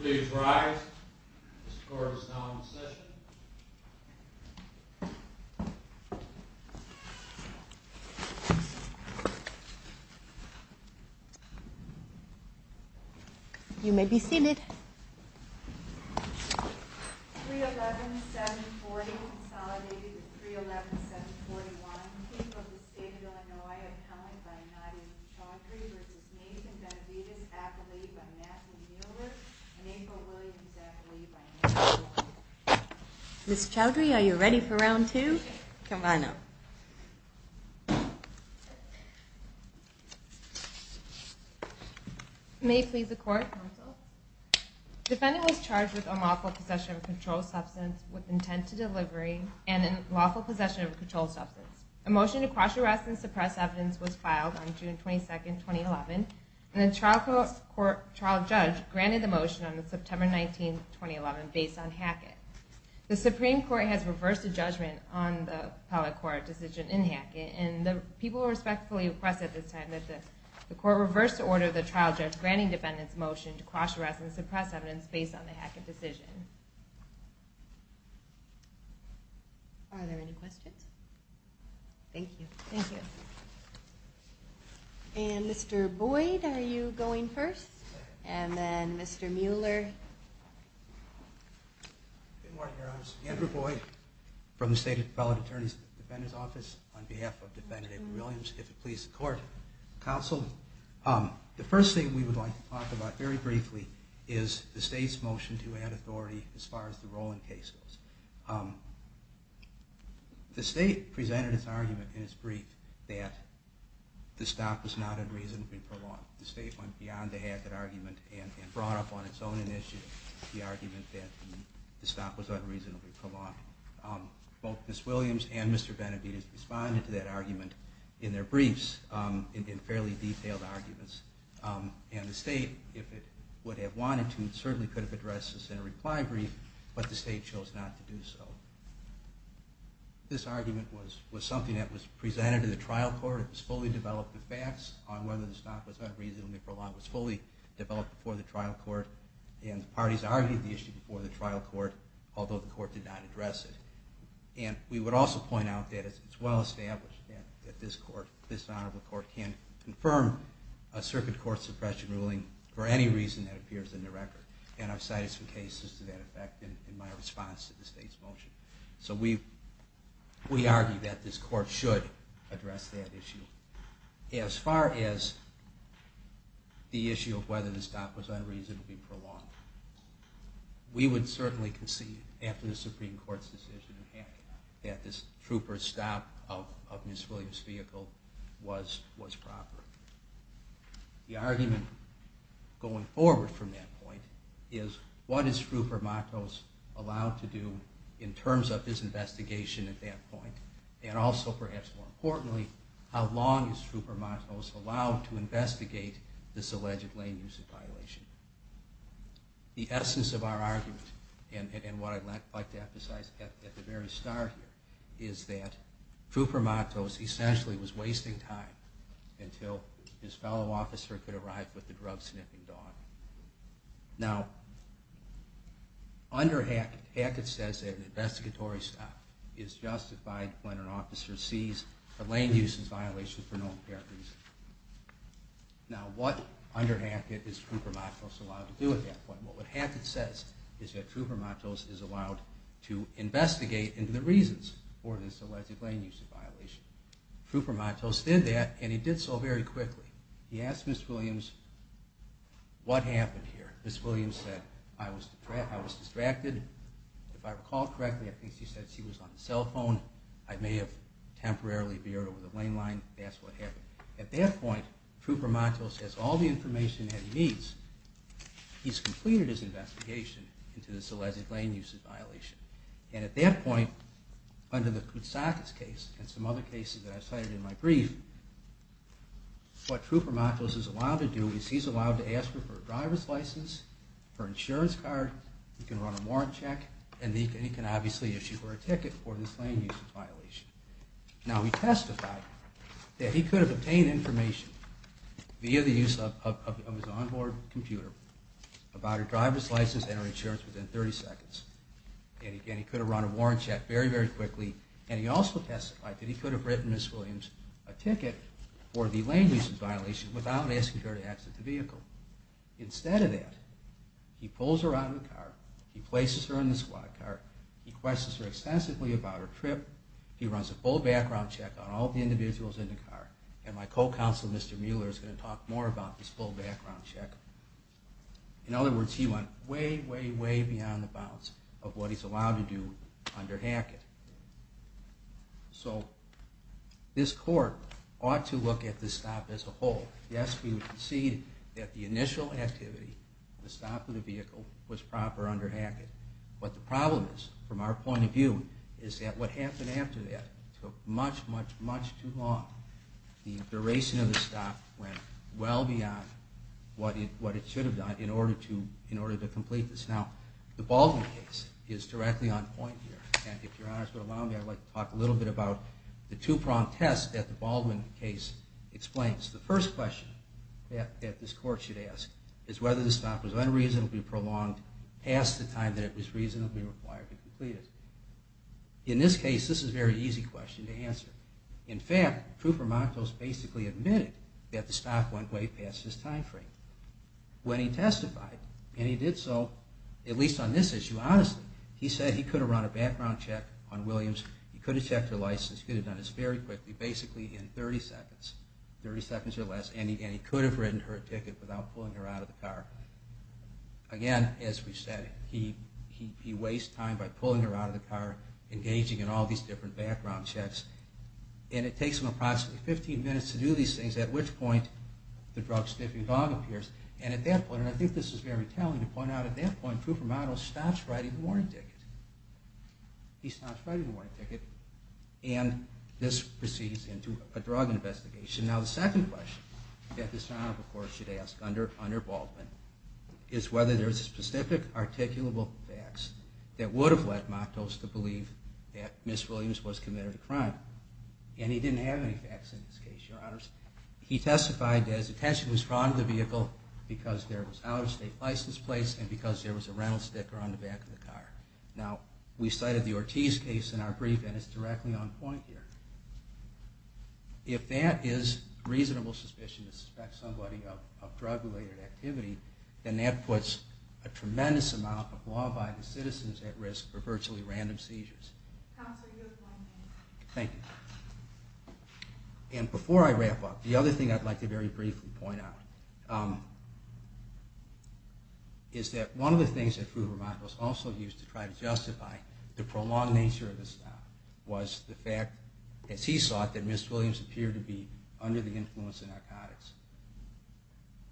Please rise. This court is now in session. You may be seated. 311740 consolidated with 311741. I'm the Chief of the State of Illinois, appellant by Nadia Chaudhry v. Nathan Benavidez, athlete by Nathan Miller and April Williams, athlete by Nathan Miller. Ms. Chaudhry, are you ready for round two? Come on up. May it please the court. Defendant was charged with unlawful possession of a controlled substance with intent to delivery and unlawful possession of a controlled substance. A motion to cross arrest and suppress evidence was filed on June 22, 2011, and the trial judge granted the motion on September 19, 2011, based on Hackett. The Supreme Court has reversed a judgment on the appellate court decision in Hackett, and the people respectfully request at this time that the court reverse the order of the trial judge granting defendant's motion to cross arrest and suppress evidence based on the Hackett decision. Are there any questions? Thank you. And Mr. Boyd, are you going first? And then Mr. Mueller. Good morning, Your Honors. Andrew Boyd from the State Appellate Attorney's Defender's Office on behalf of Defendant April Williams. If it please the court, counsel, the first thing we would like to talk about very briefly is the State's motion to add authority as far as the Rowland case goes. The State presented its argument in its brief that the stop was not unreasonably prolonged. The State went beyond the Hackett argument and brought up on its own initiative the argument that the stop was unreasonably prolonged. Both Ms. Williams and Mr. Benavides responded to that argument in their briefs in fairly detailed arguments, and the State, if it would have wanted to, certainly could have addressed this in a reply brief, but the State chose not to do so. This argument was something that was presented to the trial court. It was fully developed with facts on whether the stop was unreasonably prolonged. It was fully developed before the trial court, and the parties argued the issue before the trial court, although the court did not address it. And we would also point out that it's well established that this honorable court can't confirm a circuit court suppression ruling for any reason that appears in the record. And I've cited some cases to that effect in my response to the State's motion. So we argue that this court should address that issue. As far as the issue of whether the stop was unreasonably prolonged, we would certainly concede, after the Supreme Court's decision in Hackett, that this trooper's stop of Ms. Williams' vehicle was proper. The argument going forward from that point is, what is Trooper Matos allowed to do in terms of his investigation at that point? And also, perhaps more importantly, how long is Trooper Matos allowed to investigate this alleged lane-use violation? The essence of our argument, and what I'd like to emphasize at the very start here, is that Trooper Matos essentially was wasting time until his fellow officer could arrive with the drug-sniffing dog. Now, under Hackett, Hackett says that an investigatory stop is justified when an officer sees a lane-use violation for no apparent reason. Now, what under Hackett is Trooper Matos allowed to do at that point? What Hackett says is that Trooper Matos is allowed to investigate into the reasons for this alleged lane-use violation. Trooper Matos did that, and he did so very quickly. He asked Ms. Williams, what happened here? Ms. Williams said, I was distracted. If I recall correctly, I think she said she was on the cell phone. I may have temporarily veered over the lane line and asked what happened. At that point, Trooper Matos has all the information that he needs. He's completed his investigation into this alleged lane-use violation. And at that point, under the Koutsakis case and some other cases that I've cited in my brief, what Trooper Matos is allowed to do is he's allowed to ask her for a driver's license, her insurance card, he can run a warrant check, and he can obviously issue her a ticket for this lane-use violation. Now, he testified that he could have obtained information via the use of his onboard computer about her driver's license and her insurance within 30 seconds. And again, he could have run a warrant check very, very quickly. And he also testified that he could have written Ms. Williams a ticket for the lane-use violation without asking her to exit the vehicle. Instead of that, he pulls her out of the car, he places her in the squad car, he questions her extensively about her trip, he runs a full background check on all the individuals in the car. And my co-counsel, Mr. Mueller, is going to talk more about this full background check. In other words, he went way, way, way beyond the bounds of what he's allowed to do under Hackett. So this court ought to look at this stop as a whole. Yes, we would concede that the initial activity, the stop of the vehicle, was proper under Hackett. But the problem is, from our point of view, is that what happened after that took much, much, much too long. The duration of the stop went well beyond what it should have done in order to complete this. Now, the Baldwin case is directly on point here. And if Your Honor would allow me, I'd like to talk a little bit about the two-prong test that the Baldwin case explains. The first question that this court should ask is whether the stop was unreasonably prolonged past the time that it was reasonably required to complete it. In this case, this is a very easy question to answer. In fact, Krupa-Montos basically admitted that the stop went way past his time frame when he testified. And he did so, at least on this issue, honestly. He said he could have run a background check on Williams. He could have checked her license. He could have done this very quickly, basically in 30 seconds, 30 seconds or less. And he could have written her a ticket without pulling her out of the car. Again, as we said, he wastes time by pulling her out of the car, engaging in all these different background checks. And it takes him approximately 15 minutes to do these things, at which point the drug-sniffing dog appears. And at that point, and I think this is very telling to point out, at that point, Krupa-Montos stops writing the warrant ticket. He stops writing the warrant ticket, and this proceeds into a drug investigation. Now, the second question that this Honorable Court should ask, under Baldwin, is whether there's specific articulable facts that would have led Montos to believe that Ms. Williams was committed a crime. And he didn't have any facts in this case, Your Honors. He testified that his attention was drawn to the vehicle because there was out-of-state license plates and because there was a rental sticker on the back of the car. Now, we cited the Ortiz case in our brief, and it's directly on point here. If that is reasonable suspicion to suspect somebody of drug-related activity, then that puts a tremendous amount of law-abiding citizens at risk for virtually random seizures. Thank you. And before I wrap up, the other thing I'd like to very briefly point out is that one of the things that Krupa-Montos also used to try to justify the prolonged nature of the stop was the fact, as he saw it, that Ms. Williams appeared to be under the influence of narcotics.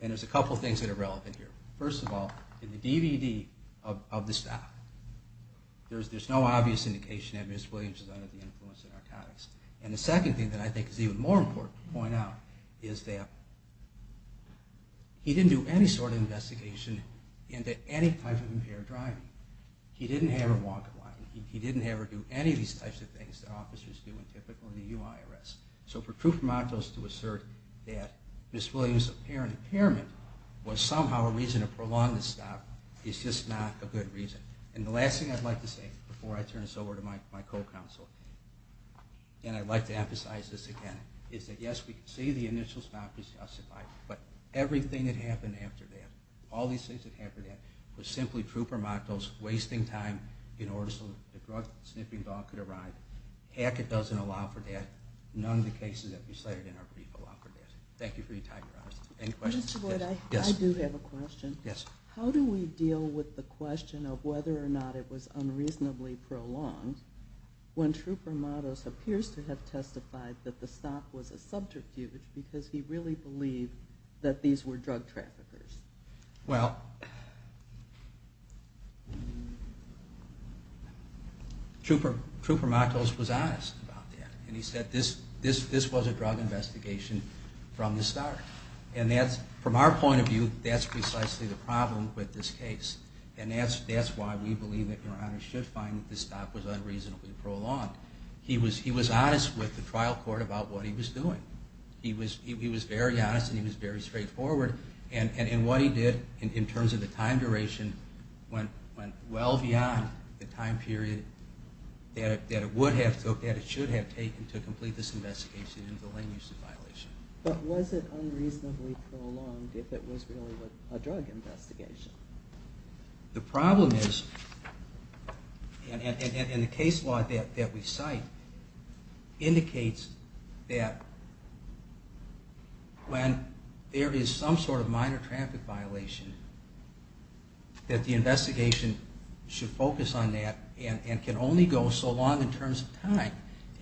And there's a couple things that are relevant here. First of all, in the DVD of the stop, there's no obvious indication that Ms. Williams was under the influence of narcotics. And the second thing that I think is even more important to point out is that he didn't do any sort of investigation into any type of impaired driving. He didn't have her walk or run. He didn't have her do any of these types of things that officers do in TIPIT or the UIRS. So for Krupa-Montos to assert that Ms. Williams' apparent impairment was somehow a reason to prolong the stop is just not a good reason. And the last thing I'd like to say before I turn this over to my co-counsel, and I'd like to emphasize this again, is that yes, we can see the initial stop is justified, but everything that happened after that, all these things that happened after that, was simply Krupa-Montos wasting time in order so the drug-sniffing dog could arrive. Hackett doesn't allow for that. None of the cases that we cited in our brief allow for that. Thank you for your time, Your Honor. Any questions? I do have a question. How do we deal with the question of whether or not it was unreasonably prolonged when Krupa-Montos appears to have testified that the stop was a subterfuge because he really believed that these were drug traffickers? Well, Krupa-Montos was honest about that. And he said this was a drug investigation from the start. And from our point of view, that's precisely the problem with this case. And that's why we believe that Your Honor should find that the stop was unreasonably prolonged. He was honest with the trial court about what he was doing. He was very honest and he was very straightforward. And what he did in terms of the time duration went well beyond the time period that it would have, that it should have taken to complete this investigation into the lane-use violation. But was it unreasonably prolonged if it was really a drug investigation? The problem is, and the case law that we cite indicates that when there is some sort of minor traffic violation, that the investigation should focus on that and can only go so long in terms of time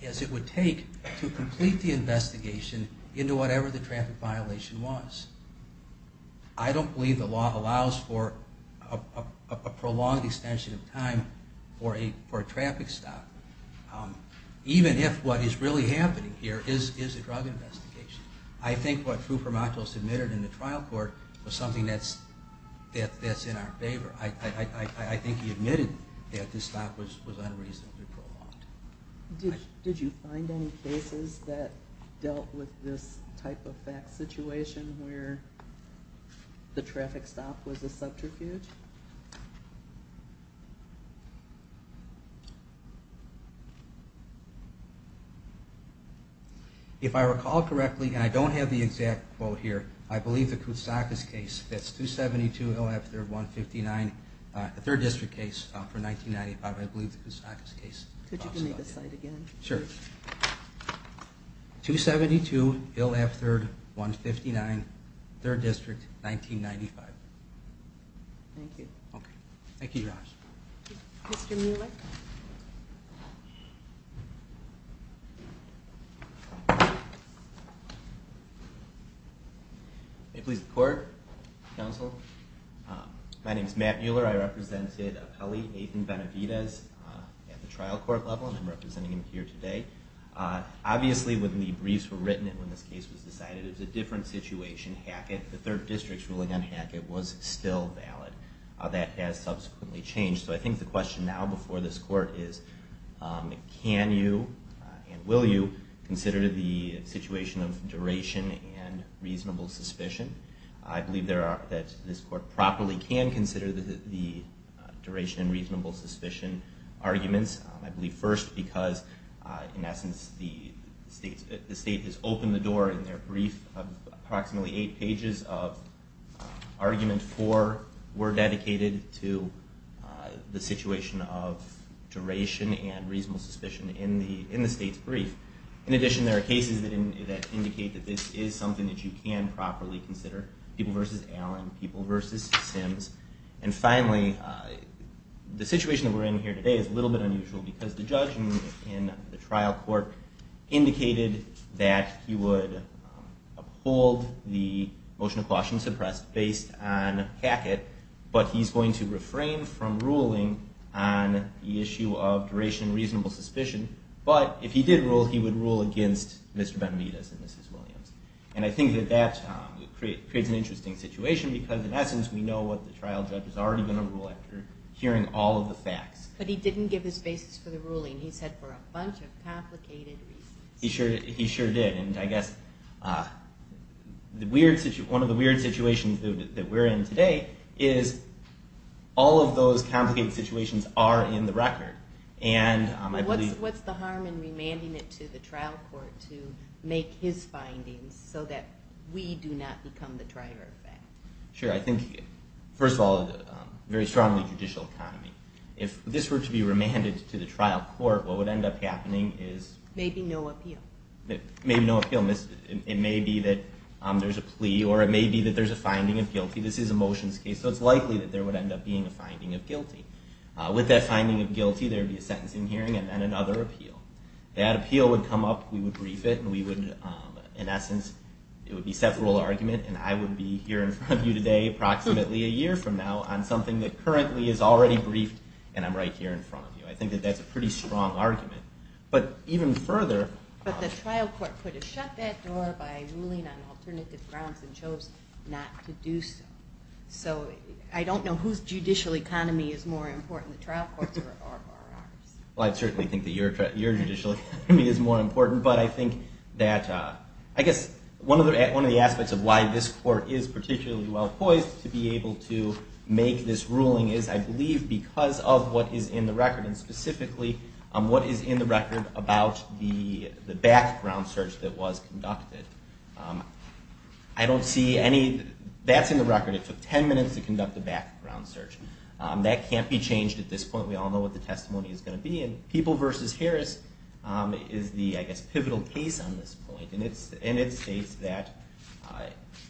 as it would take to complete the investigation into whatever the traffic violation was. I don't believe the law allows for a prolonged extension of time for a traffic stop, even if what is really happening here is a drug investigation. I think what Frupermatos admitted in the trial court was something that's in our favor. I think he admitted that the stop was unreasonably prolonged. Did you find any cases that dealt with this type of fact situation where the traffic stop was a subterfuge? If I recall correctly, and I don't have the exact quote here, I believe the Kousakis case, that's 272 Hill F3rd 159, the 3rd District case for 1995, I believe the Kousakis case. Could you give me the cite again? Sure. 272 Hill F3rd 159, 3rd District, 1995. Thank you. Thank you guys. May it please the court, counsel. My name is Matt Mueller. I represented Apelli, Nathan Benavidez at the trial court level, and I'm representing him here today. Obviously, when the briefs were written and when this case was decided, it was a different situation. Hackett, the 3rd District's ruling on Hackett was still valid. That has subsequently changed, so I think the question now before this court is, can you and will you consider the situation of duration and reasonable suspicion? I believe that this court properly can consider the duration and reasonable suspicion arguments. I believe first because, in essence, the state has opened the door in their brief of approximately 8 pages of argument 4 were dedicated to the situation of duration and reasonable suspicion in the state's brief. In addition, there are cases that indicate that this is something that you can properly consider, people versus Allen, people versus Sims. And finally, the situation that we're in here today is a little bit unusual because the judge in the trial court indicated that he would uphold the motion of caution suppressed based on Hackett, but he's going to refrain from ruling on the issue of duration and reasonable suspicion. But if he did rule, he would rule against Mr. Benavidez and Mrs. Williams. And I think that that creates an interesting situation because, in essence, we know what the trial judge is already going to rule after hearing all of the facts. But he didn't give his basis for the ruling. He said for a bunch of complicated reasons. He sure did, and I guess one of the weird situations that we're in today is all of those complicated situations are in the record. What's the harm in remanding it to the trial court to make his findings so that we do not become the driver of that? First of all, a very strongly judicial economy. If this were to be remanded to the trial court, what would end up happening is... Maybe no appeal. It may be that there's a plea or it may be that there's a finding of guilty. This is a motions case, so it's likely that there would end up being a finding of guilty. With that finding of guilty, there would be a sentencing hearing and then another appeal. That appeal would come up, we would brief it, and we would, in essence, it would be a set rule argument, and I would be here in front of you today, approximately a year from now, on something that currently is already briefed, and I'm right here in front of you. I think that that's a pretty strong argument, but even further... But the trial court could have shut that door by ruling on alternative grounds and chose not to do so. So I don't know whose judicial economy is more important, the trial courts or ours. Well, I certainly think that your judicial economy is more important, but I think that... I guess one of the aspects of why this court is particularly well poised to be able to make this ruling is, I believe, because of what is in the record, and specifically what is in the record about the background search that was conducted. I don't see any... That's in the record. It took 10 minutes to conduct the background search. That can't be changed at this point. We all know what the testimony is going to be. And People v. Harris is the, I guess, pivotal case on this point, and it states that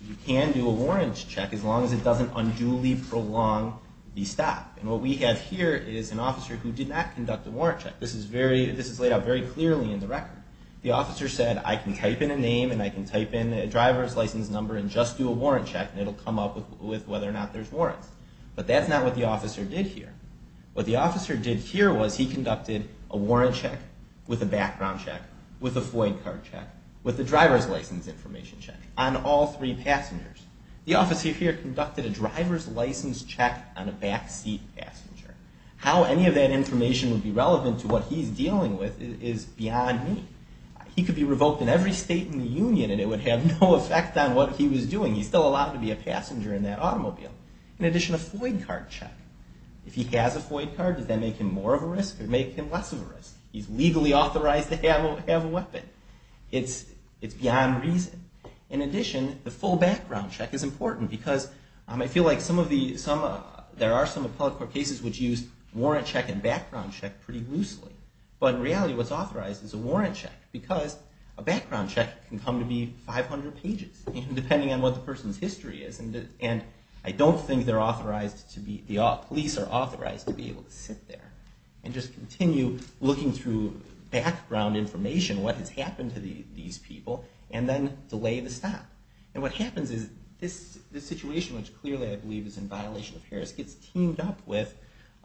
you can do a warrant check as long as it doesn't unduly prolong the stop. And what we have here is an officer who did not conduct a warrant check. This is laid out very clearly in the record. The officer said, I can type in a name and I can type in a driver's license number and just do a warrant check, and it'll come up with whether or not there's warrants. But that's not what the officer did here. What the officer did here was he conducted a warrant check with a background check, with a FOID card check, with a driver's license information check on all three passengers. The officer here conducted a driver's license check on a backseat passenger. How any of that information would be relevant to what he's dealing with is beyond me. He could be revoked in every state in the union and it would have no effect on what he was doing. He's still allowed to be a passenger in that automobile. In addition, a FOID card check. If he has a FOID card, does that make him more of a risk or make him less of a risk? He's legally authorized to have a weapon. It's beyond reason. In addition, the full background check is important because I feel like there are some appellate court cases which use warrant check and background check pretty loosely. But in reality, what's authorized is a warrant check because a background check can come to be 500 pages, depending on what the person's history is. Police are authorized to be able to sit there and just continue looking through background information, what has happened to these people, and then delay the stop. And what happens is this situation, which clearly I believe is in violation of Harris, gets teamed up with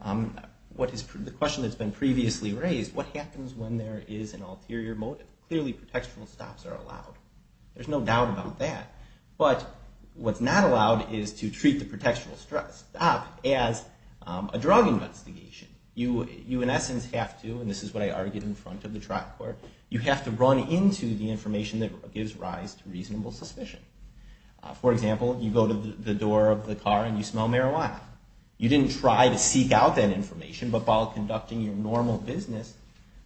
the question that's been previously raised, what happens when there is an ulterior motive? Clearly, protection stops are allowed. There's no doubt about that. But what's not allowed is to treat the protection stop as a drug investigation. You in essence have to, and this is what I argued in front of the trial court, you have to run into the information that gives rise to reasonable suspicion. For example, you go to the door of the car and you smell marijuana. You didn't try to seek out that information, but while conducting your normal business,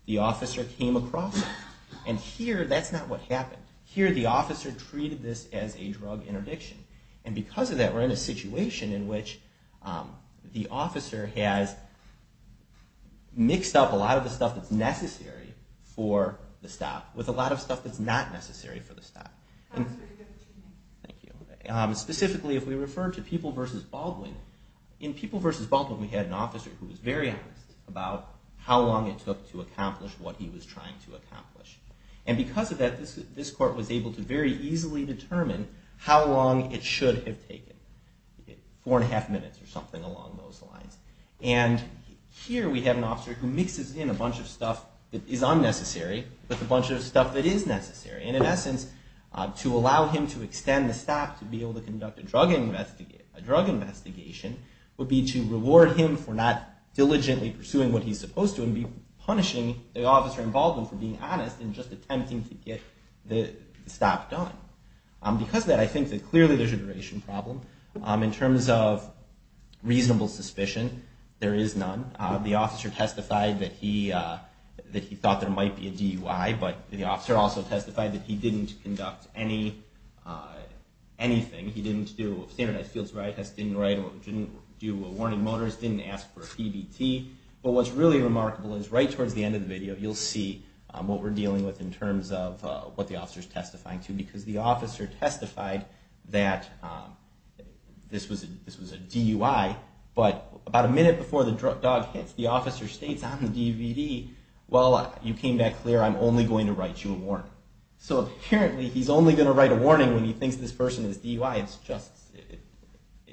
the officer came across it. And here, that's not what happened. Here, the officer treated this as a drug interdiction. And because of that, we're in a situation in which the officer has mixed up a lot of the stuff that's necessary for the stop with a lot of stuff that's not necessary for the stop. Specifically, if we refer to People v. Baldwin, in People v. Baldwin, we had an officer who was very honest about how long it took to accomplish what he was trying to accomplish. And because of that, this court was able to very easily determine how long it should have taken. Four and a half minutes or something along those lines. And here, we have an officer who mixes in a bunch of stuff that is unnecessary with a bunch of stuff that is necessary. And in essence, to allow him to extend the stop to be able to conduct a drug investigation would be to reward him for not diligently pursuing what he's supposed to and be punishing the officer involved for being honest and just attempting to get the stop done. Because of that, I think that clearly there's a duration problem. In terms of reasonable suspicion, there is none. The officer testified that he thought there might be a DUI, but the officer also testified that he didn't conduct anything. He didn't do a standardized field survival test, didn't do a warning motors, didn't ask for a PBT. But what's really remarkable is right towards the end of the video, you'll see what we're dealing with in terms of what the officer is testifying to. Because the officer testified that this was a DUI, but about a minute before the dog hits, the officer states on the DVD, well, you came back clear. I'm only going to write you a warning. So apparently, he's only going to write a warning when he thinks this person is DUI. It's just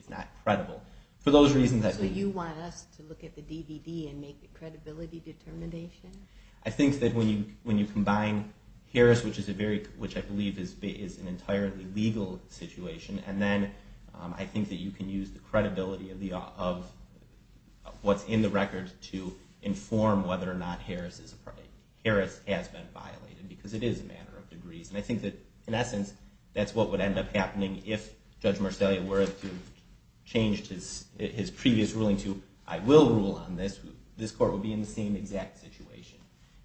not credible. So you want us to look at the DVD and make a credibility determination? I think that when you combine Harris, which I believe is an entirely legal situation, and then I think that you can use the credibility of what's in the record to inform whether or not Harris has been violated. Because it is a matter of degrees. And I think that in essence, that's what would end up happening if Judge Marcellia were to change his previous ruling to, I will rule on this. This court would be in the same exact situation.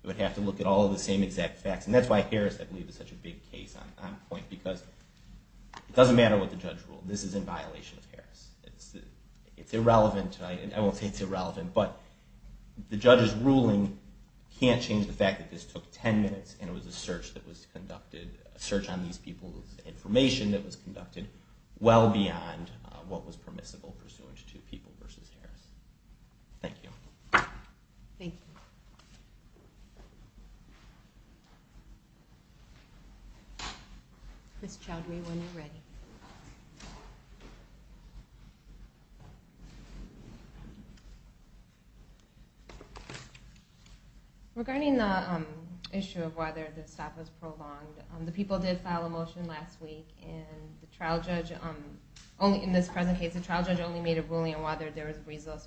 It would have to look at all of the same exact facts. And that's why Harris, I believe, is such a big case on point. Because it doesn't matter what the judge ruled. This is in violation of Harris. It's irrelevant. I won't say it's irrelevant, but the judge's ruling can't change the fact that this took ten minutes and it was a search on these people's information that was conducted well beyond what was permissible pursuant to People v. Harris. Thank you. Thank you. Ms. Chowdhury, when you're ready. Regarding the issue of whether the stop was prolonged, the people did file a motion last week, and the trial judge only made a ruling on whether there was a reasonable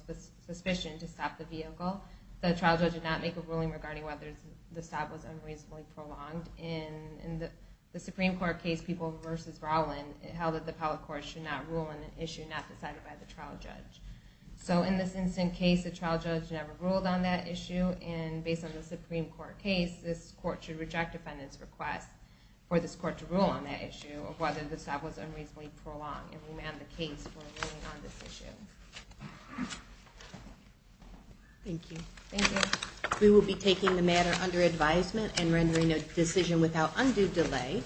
suspicion to stop the vehicle. The trial judge did not make a ruling regarding whether the stop was unreasonably prolonged. In the Supreme Court case, People v. Rowland, it held that the appellate court should not rule on an issue not decided by the trial judge. So in this instance, the trial judge never ruled on that issue. And based on the Supreme Court case, this court should not prolong and remand the case for ruling on this issue. Thank you. We will be taking the matter under advisement and rendering a decision without undue delay.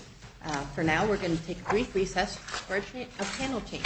For now, we're going to take a brief recess for a panel change.